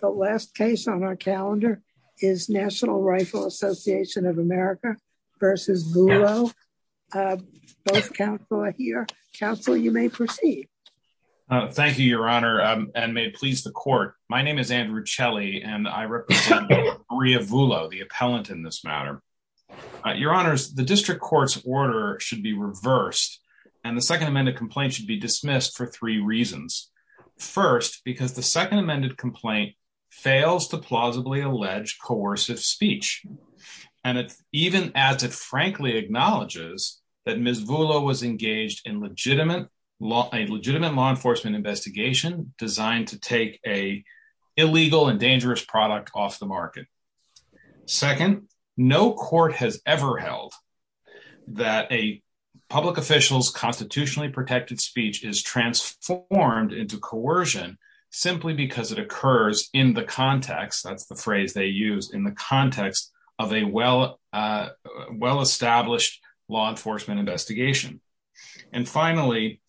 The last case on our calendar is National Rifle Association of America versus Voolo. Both counsel are here. Counsel, you may proceed. Thank you, Your Honor, and may it please the court. My name is Andrew Celli, and I represent Maria Voolo, the appellant in this matter. Your Honors, the district court's order should be reversed, and the second amended complaint should be dismissed for three reasons. First, because the second amended complaint fails to plausibly allege coercive speech, and even as it frankly acknowledges that Ms. Voolo was engaged in a legitimate law enforcement investigation designed to take an illegal and dangerous product off the market. Second, no court has ever held that a public official's constitutionally protected speech is transformed into coercion simply because it occurs in the context, that's the phrase they use, in the context of a well-established law enforcement investigation. And finally,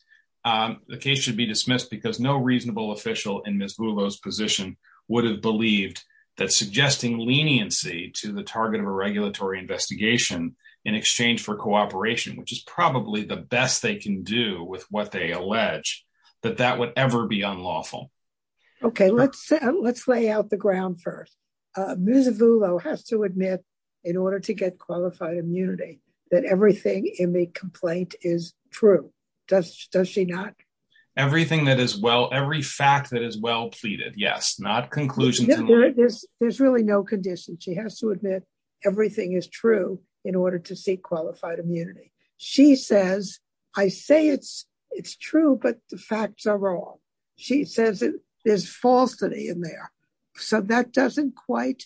the case should be dismissed because no reasonable official in Ms. Voolo's position would have believed that suggesting leniency to the target of a regulatory investigation in exchange for cooperation, which is probably the best they can do with what they allege, that that would ever be unlawful. Okay, let's lay out the ground first. Ms. Voolo has to admit in order to get qualified immunity that everything in the complaint is true. Does she not? Everything that is well, every fact that is well pleaded, yes, not conclusions. There's really no condition. She has to admit everything is true in order to seek qualified immunity. She says, I say it's true, but the facts are wrong. She says there's falsity in there. So that doesn't quite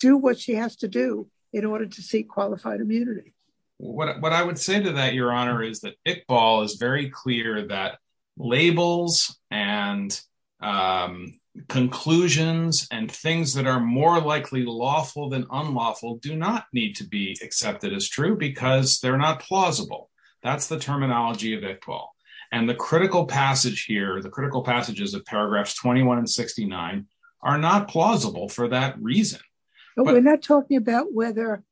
do what she has to do in order to seek qualified immunity. What I would say to that, your honor, is that Iqbal is very clear that labels and conclusions and things that are more likely lawful than unlawful do not need to be accepted as true because they're not plausible. That's the terminology of Iqbal. And the critical passage here, the critical passages of paragraphs 21 and 69 are not plausible for that reason. But we're not talking about whether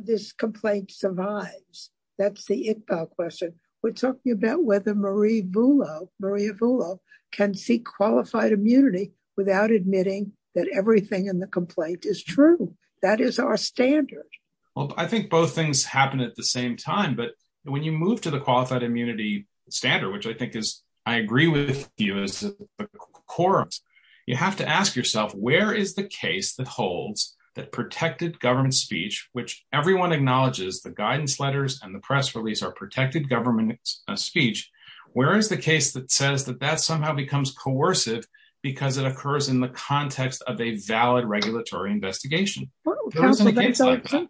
this complaint survives. That's the Iqbal question. We're talking about whether Maria Voolo can seek qualified immunity without admitting that everything in the complaint is true. That is our standard. Well, I think both things happen at the same time. But when you move to the qualified immunity standard, which I think is, I agree with you as a quorum, you have to ask yourself, where is the case that holds that protected government speech, which everyone acknowledges the guidance letters and the press release are protected government speech? Where is the case that says that that somehow becomes coercive because it occurs in the context of a valid regulatory investigation? That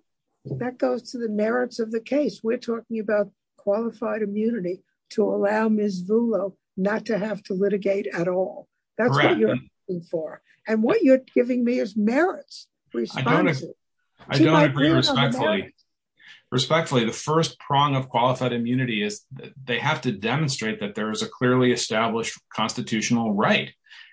goes to the merits of the case. We're talking about qualified immunity to allow Ms. Voolo not to have to litigate at all. That's what you're giving me as merits. I don't agree respectfully. Respectfully, the first prong of qualified immunity is that they have to demonstrate that there is a clearly established constitutional right.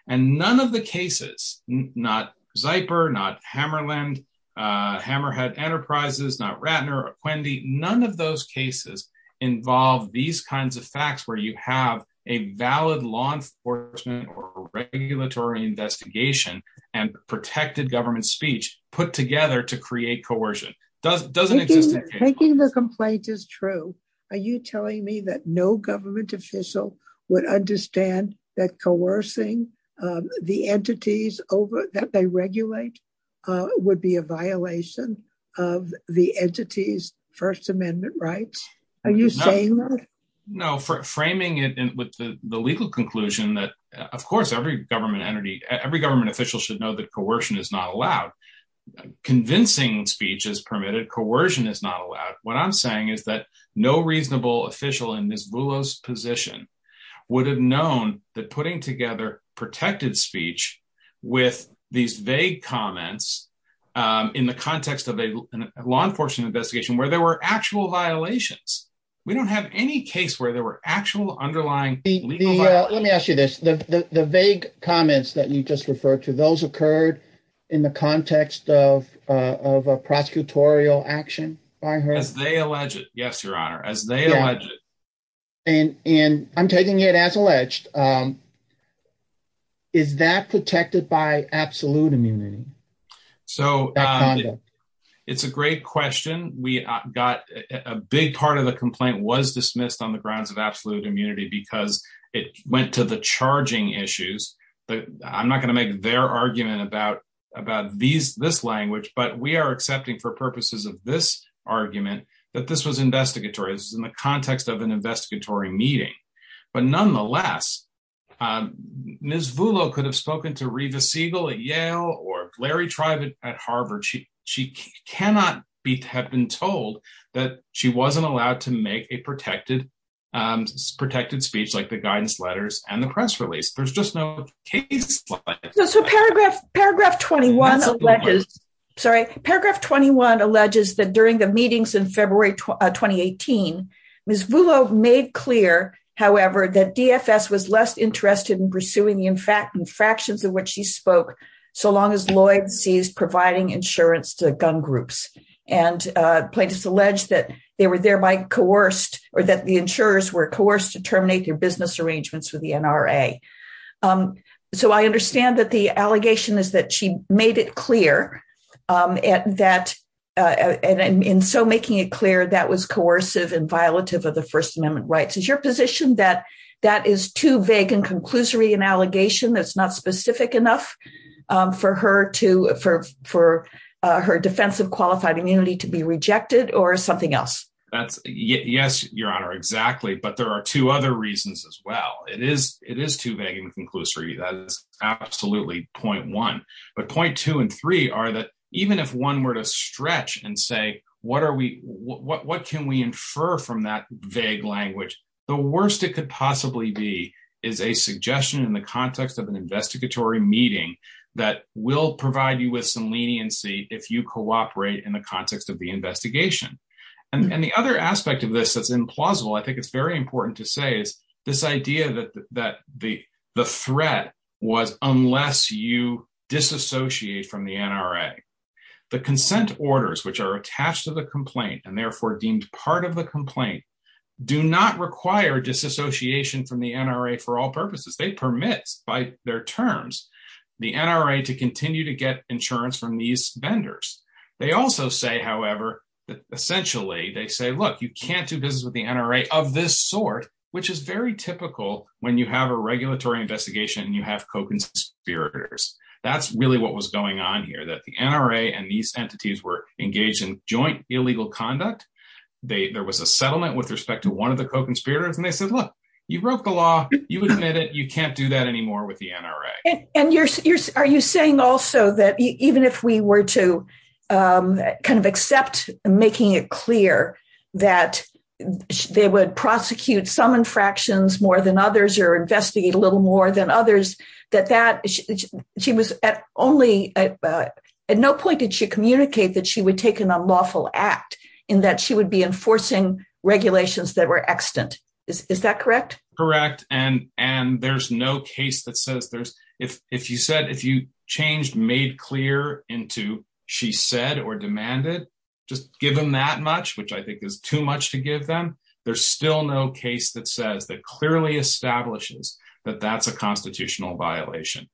And none of the cases, not Zyper, not Hammerland, Hammerhead Enterprises, not Ratner, or Quendi, none of those cases involve these kinds of facts where you have a valid law enforcement or regulatory investigation and protected government speech put together to create coercion. Taking the complaint is true. Are you telling me that no government official would understand that coercing the entities that they regulate would be a violation of the entity's First Amendment rights? Are you saying that? No, framing it with the legal conclusion that, of course, every government entity, every government official should know that coercion is not allowed. Convincing speech is permitted. Coercion is not allowed. What I'm saying is that no reasonable official in Ms. Voolo's position would have known that putting together protected speech with these vague comments in the context of a law enforcement investigation where there were actual violations. We don't have any case where there were actual underlying legal violations. Let me ask you this. The vague comments that you just referred to, those occurred in the context of a prosecutorial action by her? As they allege it, yes, Your Honor. As they allege it. And I'm taking it as alleged. Is that protected by absolute immunity? So it's a great question. We got a big part of the complaint was dismissed on the grounds of absolute immunity because it went to the charging issues. I'm not going to make their argument about this language, but we are accepting for purposes of this argument that this was investigatory. This was in the context of an investigatory meeting. But nonetheless, Ms. Voolo could have spoken to Reva Siegel at Yale or Larry Tribe at Harvard. She cannot have been told that she wasn't allowed to make a protected speech like the guidance letters and the press release. There's just no case like that. Paragraph 21 alleges that during the meetings in February 2018, Ms. Voolo made clear, however, that DFS was less interested in pursuing the infractions in which she spoke so long as Lloyd sees providing insurance to gun groups. And plaintiffs allege that they were thereby coerced or that the insurers were coerced to terminate their business arrangements with the NRA. So I understand that the allegation is that she made it clear and so making it clear that was coercive and violative of the First Amendment rights. Is your position that that is too vague and conclusory an allegation that's not specific enough for her defense of qualified immunity to be rejected or something else? Yes, Your Honor, exactly. But there are two other reasons as well. It is too vague and conclusory. That is absolutely point one. But point two and three are that even if one were to stretch and say what can we infer from that vague language, the worst it could possibly be is a suggestion in the context of an investigatory meeting that will provide you with some leniency if you cooperate in the context of the investigation. And the other aspect of this that's implausible, I think it's very important to say, is this idea that the threat was unless you disassociate from the NRA. The consent orders which are attached to the complaint and therefore deemed part of the complaint do not require disassociation from the NRA for all purposes. They permit by their terms the NRA to continue to get insurance from these vendors. They also say, however, that essentially they say look you can't do business with the NRA of this sort, which is very typical when you have a regulatory investigation and you have co-conspirators. That's really what was going on here, that the NRA and these entities were engaged in joint illegal conduct. There was a settlement with respect to one of the co-conspirators and they said look you broke the law, you admit it, you can't do that anymore with the NRA. And are you saying also that even if we were to kind of accept making it clear that they would prosecute some infractions more than others or investigate a little more than others, that that she was at only at no point did she communicate that she would take an unlawful act in that she would be enforcing regulations that were extant. Is that correct? Correct and there's no case that says there's if you said if you changed made clear into she said or demanded just give them that much, which I think is too much to give them, there's still no case that says that clearly establishes that that's a constitutional violation.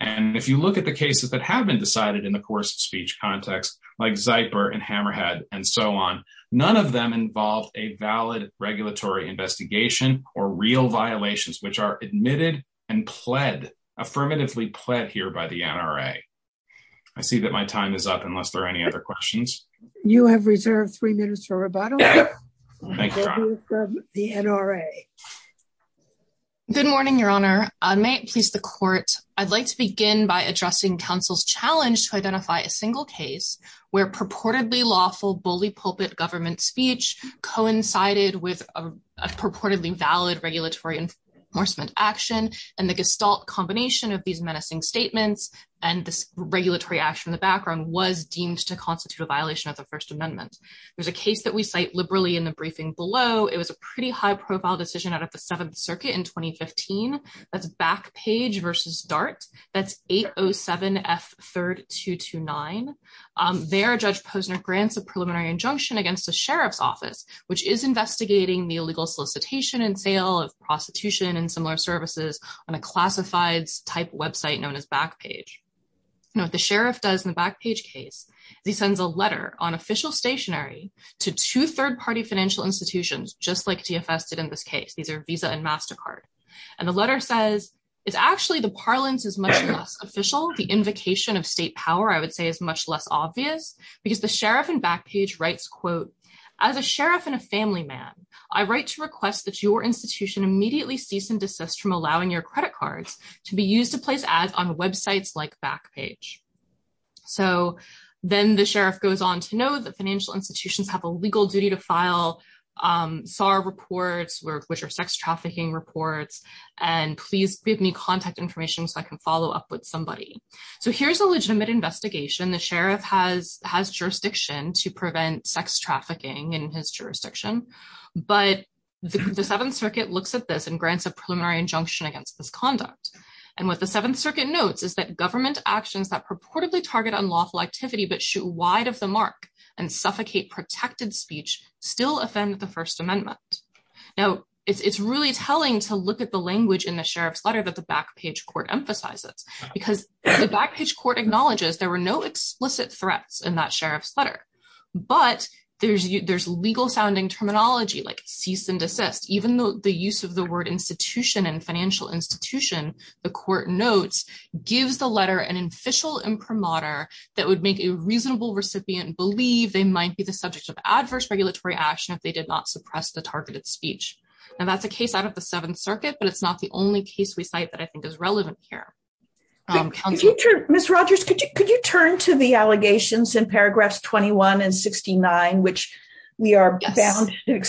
And if you look at the cases that have been decided in the course of speech context like Zyper and Hammerhead and so on, none of them involved a valid regulatory investigation or real violations which are admitted and pled, affirmatively pled here by the NRA. I see that my time is up unless there are any other questions. You have reserved three minutes for rebuttal. Good morning, Your Honor. May it please the court. I'd like to begin by addressing counsel's challenge to identify a single case where purportedly lawful bully pulpit government speech coincided with a purportedly valid regulatory enforcement action and the gestalt combination of these menacing statements and this regulatory action in the background was deemed to constitute a violation of the First Amendment. There's a case that we cite liberally in the briefing below. It was a pretty high profile decision out of the Seventh Circuit in 2015. That's Backpage versus DART. That's 807 F3229. There, Judge Posner grants a preliminary injunction against the sheriff's office, which is investigating the illegal solicitation and sale of prostitution and similar services on a classified type website known as Backpage. You know what the sheriff does in the Backpage case? He sends a letter on official stationary to two third-party financial institutions, just like DFS did in this case. These are Visa and MasterCard. And the letter says, it's actually the parlance is much less official. The invocation of state power, I would say, is much less obvious because the sheriff in Backpage writes, quote, as a sheriff and a family man, I write to request that your institution immediately cease and like Backpage. So then the sheriff goes on to know that financial institutions have a legal duty to file SAR reports, which are sex trafficking reports, and please give me contact information so I can follow up with somebody. So here's a legitimate investigation. The sheriff has jurisdiction to prevent sex trafficking in his jurisdiction, but the Seventh Circuit looks at this and grants a preliminary injunction against this conduct. And what the government does is that government actions that purportedly target unlawful activity but shoot wide of the mark and suffocate protected speech still offend the First Amendment. Now, it's really telling to look at the language in the sheriff's letter that the Backpage court emphasizes because the Backpage court acknowledges there were no explicit threats in that sheriff's letter. But there's legal sounding terminology like cease and desist, even though the use of word institution and financial institution, the court notes, gives the letter an official imprimatur that would make a reasonable recipient believe they might be the subject of adverse regulatory action if they did not suppress the targeted speech. And that's a case out of the Seventh Circuit, but it's not the only case we cite that I think is relevant here. Ms. Rogers, could you could you turn to the allegations in paragraphs 21 and 69, which we are bound to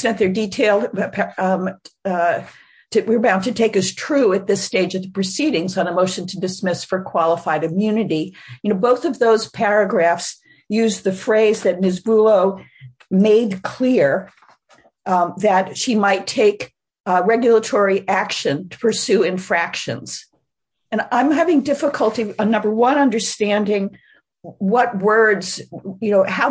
take as true at this stage of the proceedings on a motion to dismiss for qualified immunity. Both of those paragraphs use the phrase that Ms. Brulow made clear that she might take regulatory action to pursue infractions. And I'm having difficulty, number one, understanding how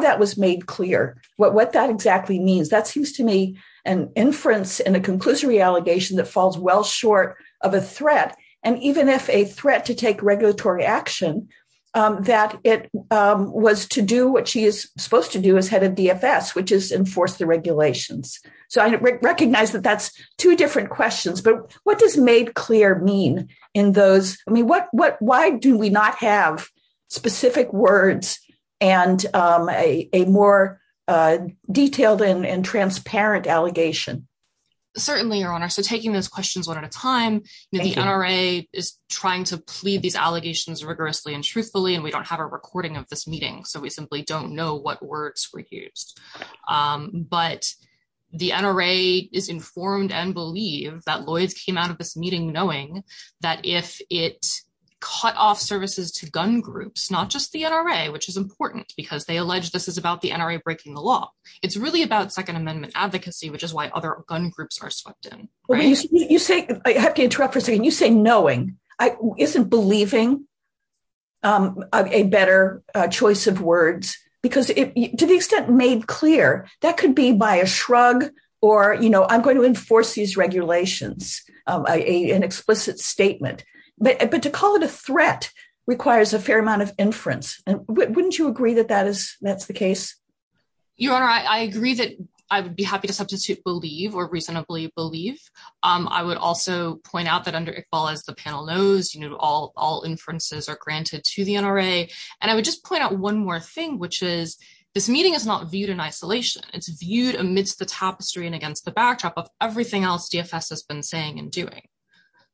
that was made clear, what that exactly means. That seems to me an inference in a conclusory allegation that falls well short of a threat. And even if a threat to take regulatory action, that it was to do what she is supposed to do as head of DFS, which is enforce the regulations. So I recognize that that's two different questions. But what does not have specific words and a more detailed and transparent allegation? Certainly, Your Honor. So taking those questions one at a time, the NRA is trying to plead these allegations rigorously and truthfully, and we don't have a recording of this meeting. So we simply don't know what words were used. But the NRA is informed and believe that Lloyd's came out of this meeting knowing that if it cut off services to gun groups, not just the NRA, which is important because they allege this is about the NRA breaking the law. It's really about Second Amendment advocacy, which is why other gun groups are swept in. I have to interrupt for a second. You say knowing. Isn't believing a better choice of words? Because to the extent made clear, that could be by a shrug or, you know, I'm going to enforce these regulations, an explicit statement. But to call it a threat requires a fair amount of inference. And wouldn't you agree that that is that's the case? Your Honor, I agree that I would be happy to substitute believe or reasonably believe. I would also point out that under Iqbal, as the panel knows, all inferences are granted to the NRA. And I would just point out one more thing, which is this meeting is not in isolation. It's viewed amidst the tapestry and against the backdrop of everything else DFS has been saying and doing.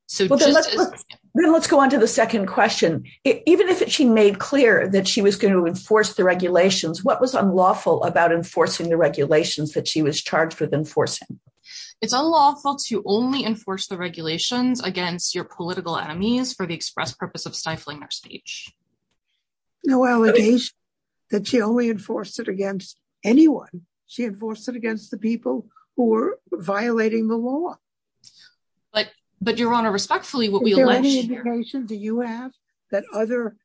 So let's go on to the second question. Even if she made clear that she was going to enforce the regulations, what was unlawful about enforcing the regulations that she was charged with enforcing? It's unlawful to only enforce the regulations against your political enemies for the express purpose of stifling their speech. No, well, it is that she only enforced it against anyone. She enforced it against the people who were violating the law. But, but Your Honor, respectfully, what we... Is there any indication, do you have, that other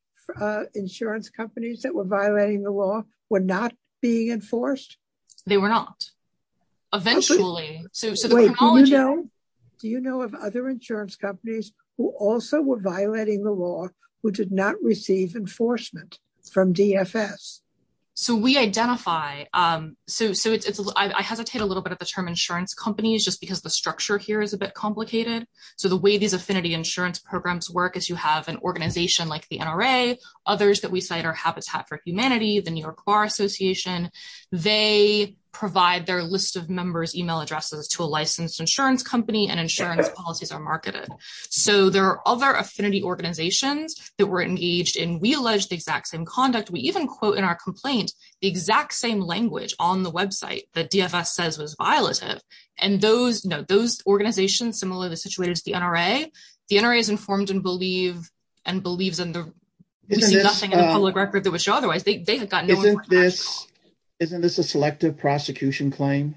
insurance companies that were violating the law were not being enforced? They were not, eventually. Do you know of other insurance companies who also were violating the law who did not receive enforcement from DFS? So we identify, so it's, I hesitate a little bit at the term insurance companies just because the structure here is a bit complicated. So the way these affinity insurance programs work is you have an organization like the NRA, others that we cite are Habitat for Humanity, the New York Bar Association. They provide their list of members email addresses to a licensed insurance company and insurance policies are marketed. So there are other affinity organizations that were engaged in, we allege the exact same conduct. We even quote in our complaint, the exact same language on the website that DFS says was violative. And those, no, those organizations, similar to the situation to the NRA, the NRA is informed and believe, and believes in the, we see nothing in the public record that would show otherwise. They have got no information. Isn't this a selective prosecution claim,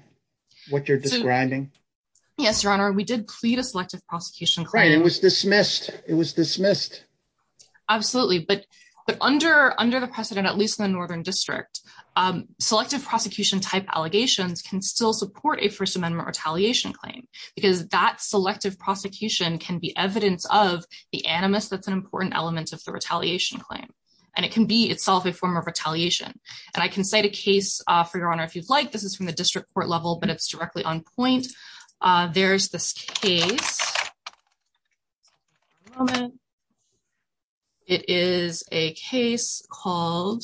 what you're describing? Yes, Your Honor. We did plead a selective prosecution claim. It was dismissed. It was dismissed. Absolutely. But under the precedent, at least in the Northern District, selective prosecution type allegations can still support a first amendment retaliation claim because that selective prosecution can be evidence of the animus that's an important element of the retaliation claim. And it can be itself a form of retaliation. And I can cite a district court level, but it's directly on point. There's this case. It is a case called,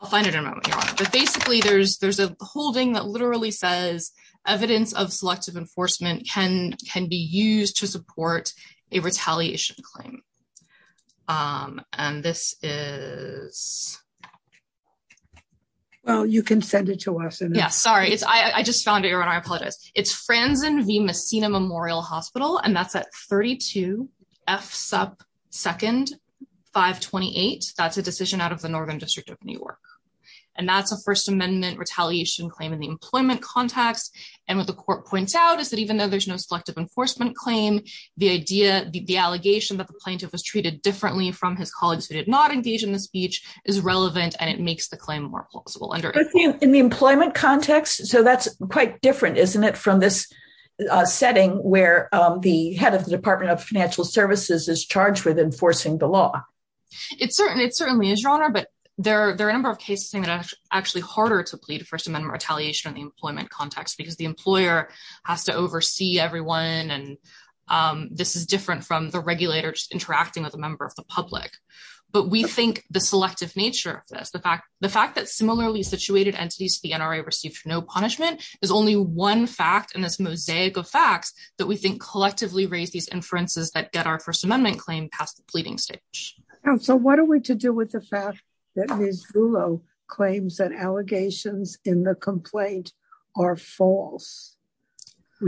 I'll find it in a moment, Your Honor. But basically there's a holding that literally says evidence of selective enforcement can be used to support a retaliation claim. And this is... Well, you can send it to us. Yeah, sorry. I just found it, Your Honor. I apologize. It's Franzen v. Messina Memorial Hospital. And that's at 32 F Supp 2nd 528. That's a decision out of the Northern District of New York. And that's a first amendment retaliation claim in the employment context. And what the court points out is that even though there's no selective enforcement claim, the idea, the allegation that the plaintiff was treated differently from his colleagues who did not engage in the speech is relevant and it makes the claim more plausible. In the employment context? So that's quite different, isn't it? From this setting where the head of the Department of Financial Services is charged with enforcing the law. It certainly is, Your Honor. But there are a number of cases that are actually harder to plead first amendment retaliation in the employment context because the employer has to oversee everyone. And this is different from the regulators interacting with a member of the public. But we think the selective nature of this, the fact that similarly situated entities to the NRA received no punishment is only one fact in this mosaic of facts that we think collectively raise these inferences that get our first amendment claim past the pleading stage. And so what are we to do with the fact that Ms. Vullo claims that allegations in the complaint are false?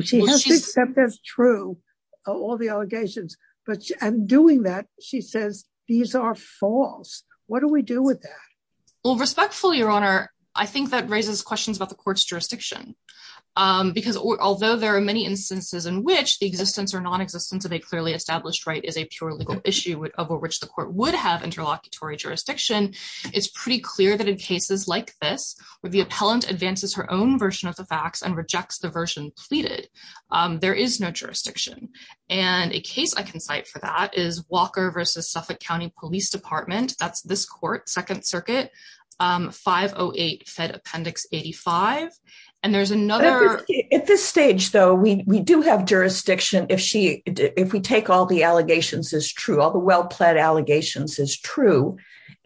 She has to accept that's true, all the allegations. But in doing that, she says these are false. What do we do with that? Well, respectfully, Your Honor, I think that raises questions about the court's jurisdiction. Because although there are many instances in which the existence or non-existence of a clearly established right is a pure legal issue of which the court would have interlocutory jurisdiction, it's pretty clear that in cases like this, where the appellant advances her own version of the facts and rejects the version pleaded, there is no jurisdiction. And a case I can cite for that is Walker versus Suffolk County Police Department. That's this court, Second Circuit, 508 Fed Appendix 85. And there's another- At this stage, though, we do have jurisdiction if we take all the allegations as true,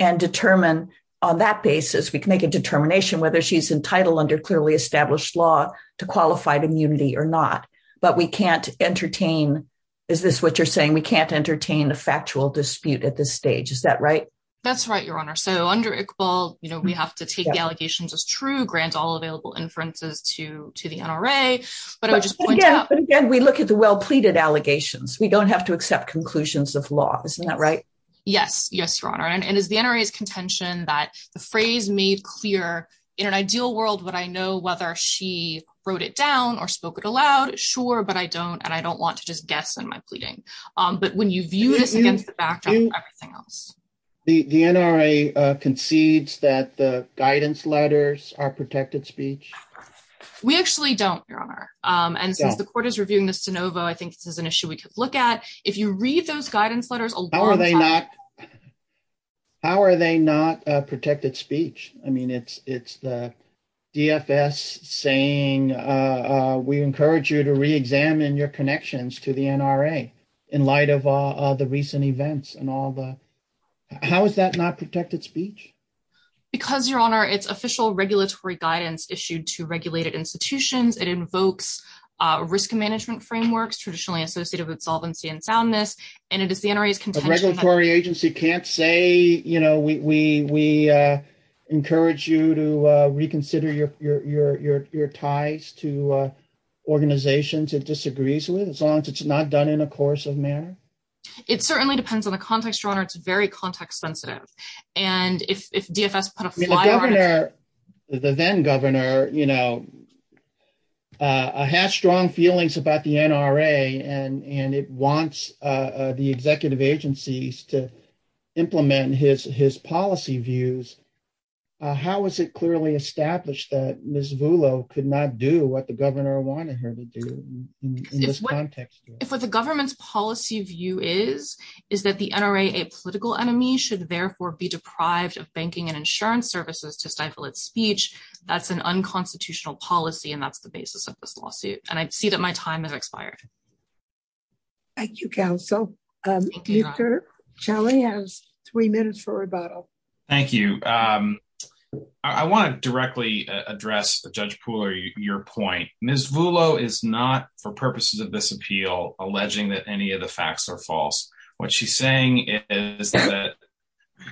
and determine on that basis, we can make a determination whether she's entitled under clearly established law to qualified immunity or not. But we can't entertain- Is this what you're saying? We can't entertain a factual dispute at this stage. Is that right? That's right, Your Honor. So under Iqbal, we have to take the allegations as true, grant all available inferences to the NRA. But I would just point out- But again, we look at the well pleaded allegations. We don't have to accept conclusions of law. Isn't that right? Yes. Yes, Your Honor. And it's the NRA's contention that the phrase made clear, in an ideal world, would I know whether she wrote it down or spoke it aloud? Sure, but I don't. And I don't want to just guess in my pleading. But when you view this against the backdrop of everything else- The NRA concedes that the guidance letters are protected speech? We actually don't, Your Honor. And since the court is reviewing this de novo, I think this is an issue we could look at. If you read those How are they not protected speech? I mean, it's the DFS saying, we encourage you to reexamine your connections to the NRA in light of all the recent events and all the- How is that not protected speech? Because, Your Honor, it's official regulatory guidance issued to regulated institutions. It invokes risk management frameworks traditionally associated with solvency and soundness. And it is the NRA's contention that- A regulatory agency can't say, we encourage you to reconsider your ties to organizations it disagrees with, as long as it's not done in a coercive manner? It certainly depends on the context, Your Honor. It's very context sensitive. And if DFS put a fly The then governor has strong feelings about the NRA and it wants the executive agencies to implement his policy views. How is it clearly established that Ms. Vullo could not do what the governor wanted her to do in this context? If what the government's policy view is, is that the NRA, a political enemy should therefore be deprived of banking and insurance services to stifle its speech, that's an unconstitutional policy and that's the basis of this lawsuit. And I see that my time has expired. Thank you, counsel. Mr. Shelley has three minutes for rebuttal. Thank you. I want to directly address Judge Pooler, your point. Ms. Vullo is not, for purposes of this appeal, alleging that any of the facts are false. What she's saying is that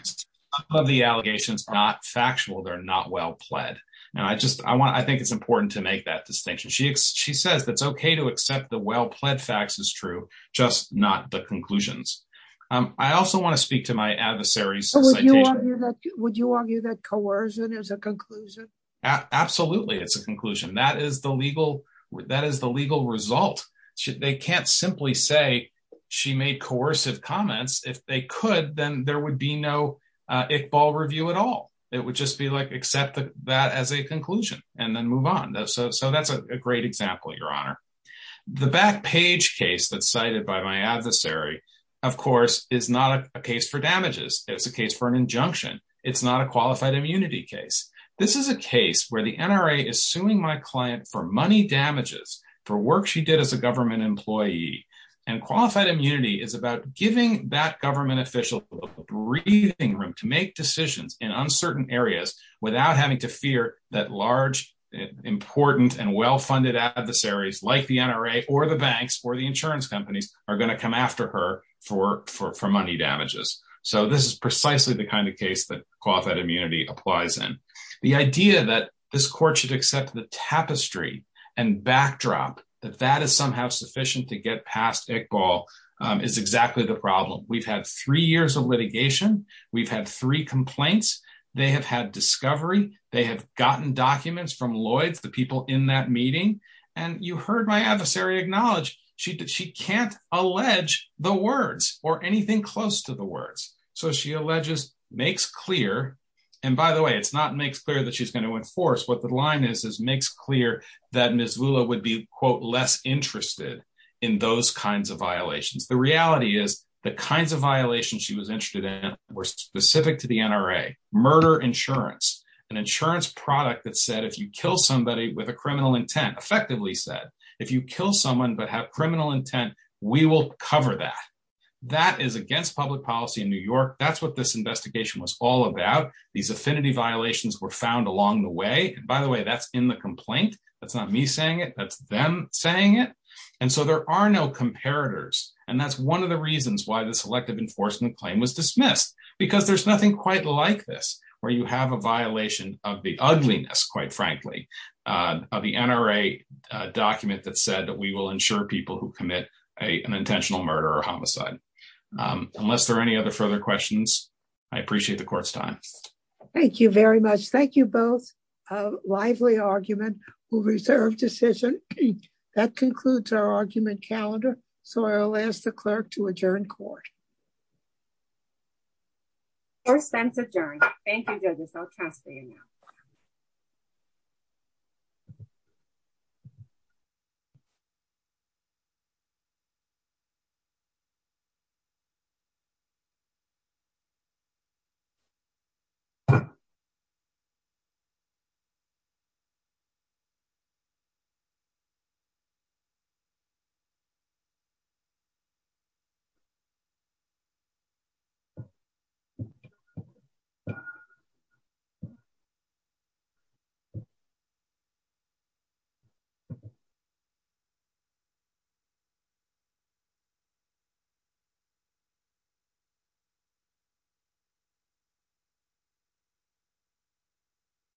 some of the allegations are not factual, they're not well pled. And I just, I want, I think it's important to make that distinction. She says it's okay to accept the well pled facts as true, just not the conclusions. I also want to speak to my adversaries. Would you argue that coercion is a conclusion? Absolutely. It's a conclusion. That is the legal result. They can't simply say she made coercive comments. If they could, then there would be no Iqbal review at all. It would just be like, accept that as a conclusion and then move on. So that's a great example, your honor. The back page case that's cited by my adversary, of course, is not a case for damages. It's a case for an injunction. It's not a qualified immunity case. This is a case where the NRA is suing my client for money damages for work she did as a government employee. And qualified immunity is about giving that government official a breathing room to make decisions in uncertain areas without having to fear that large, important, and well-funded adversaries like the NRA or the banks or the insurance companies are going to come after her for money damages. So this is precisely the kind of case that the NRA applies in. The idea that this court should accept the tapestry and backdrop, that that is somehow sufficient to get past Iqbal, is exactly the problem. We've had three years of litigation. We've had three complaints. They have had discovery. They have gotten documents from Lloyds, the people in that meeting. And you heard my adversary acknowledge that she can't allege the words or anything close to the words. So she alleges, makes clear, and by the way, it's not makes clear that she's going to enforce. What the line is, is makes clear that Ms. Lula would be, quote, less interested in those kinds of violations. The reality is, the kinds of violations she was interested in were specific to the NRA. Murder insurance, an insurance product that said if you kill somebody with a criminal intent, effectively said, if you kill someone but have criminal intent, we will cover that. That is against public policy in New York. That's what this investigation was all about. These affinity violations were found along the way. By the way, that's in the complaint. That's not me saying it. That's them saying it. And so there are no comparators. And that's one of the reasons why this elective enforcement claim was dismissed. Because there's nothing quite like this, where you have a violation of the ugliness, quite frankly, of the NRA document that said that we will ensure people who commit an intentional murder or homicide. Unless there are any other further questions, I appreciate the court's time. Thank you very much. Thank you both. A lively argument, a reserved decision. That concludes our argument calendar. So I'll ask the clerk to adjourn court. First sentence adjourned. Thank you judges. I'll task for you now.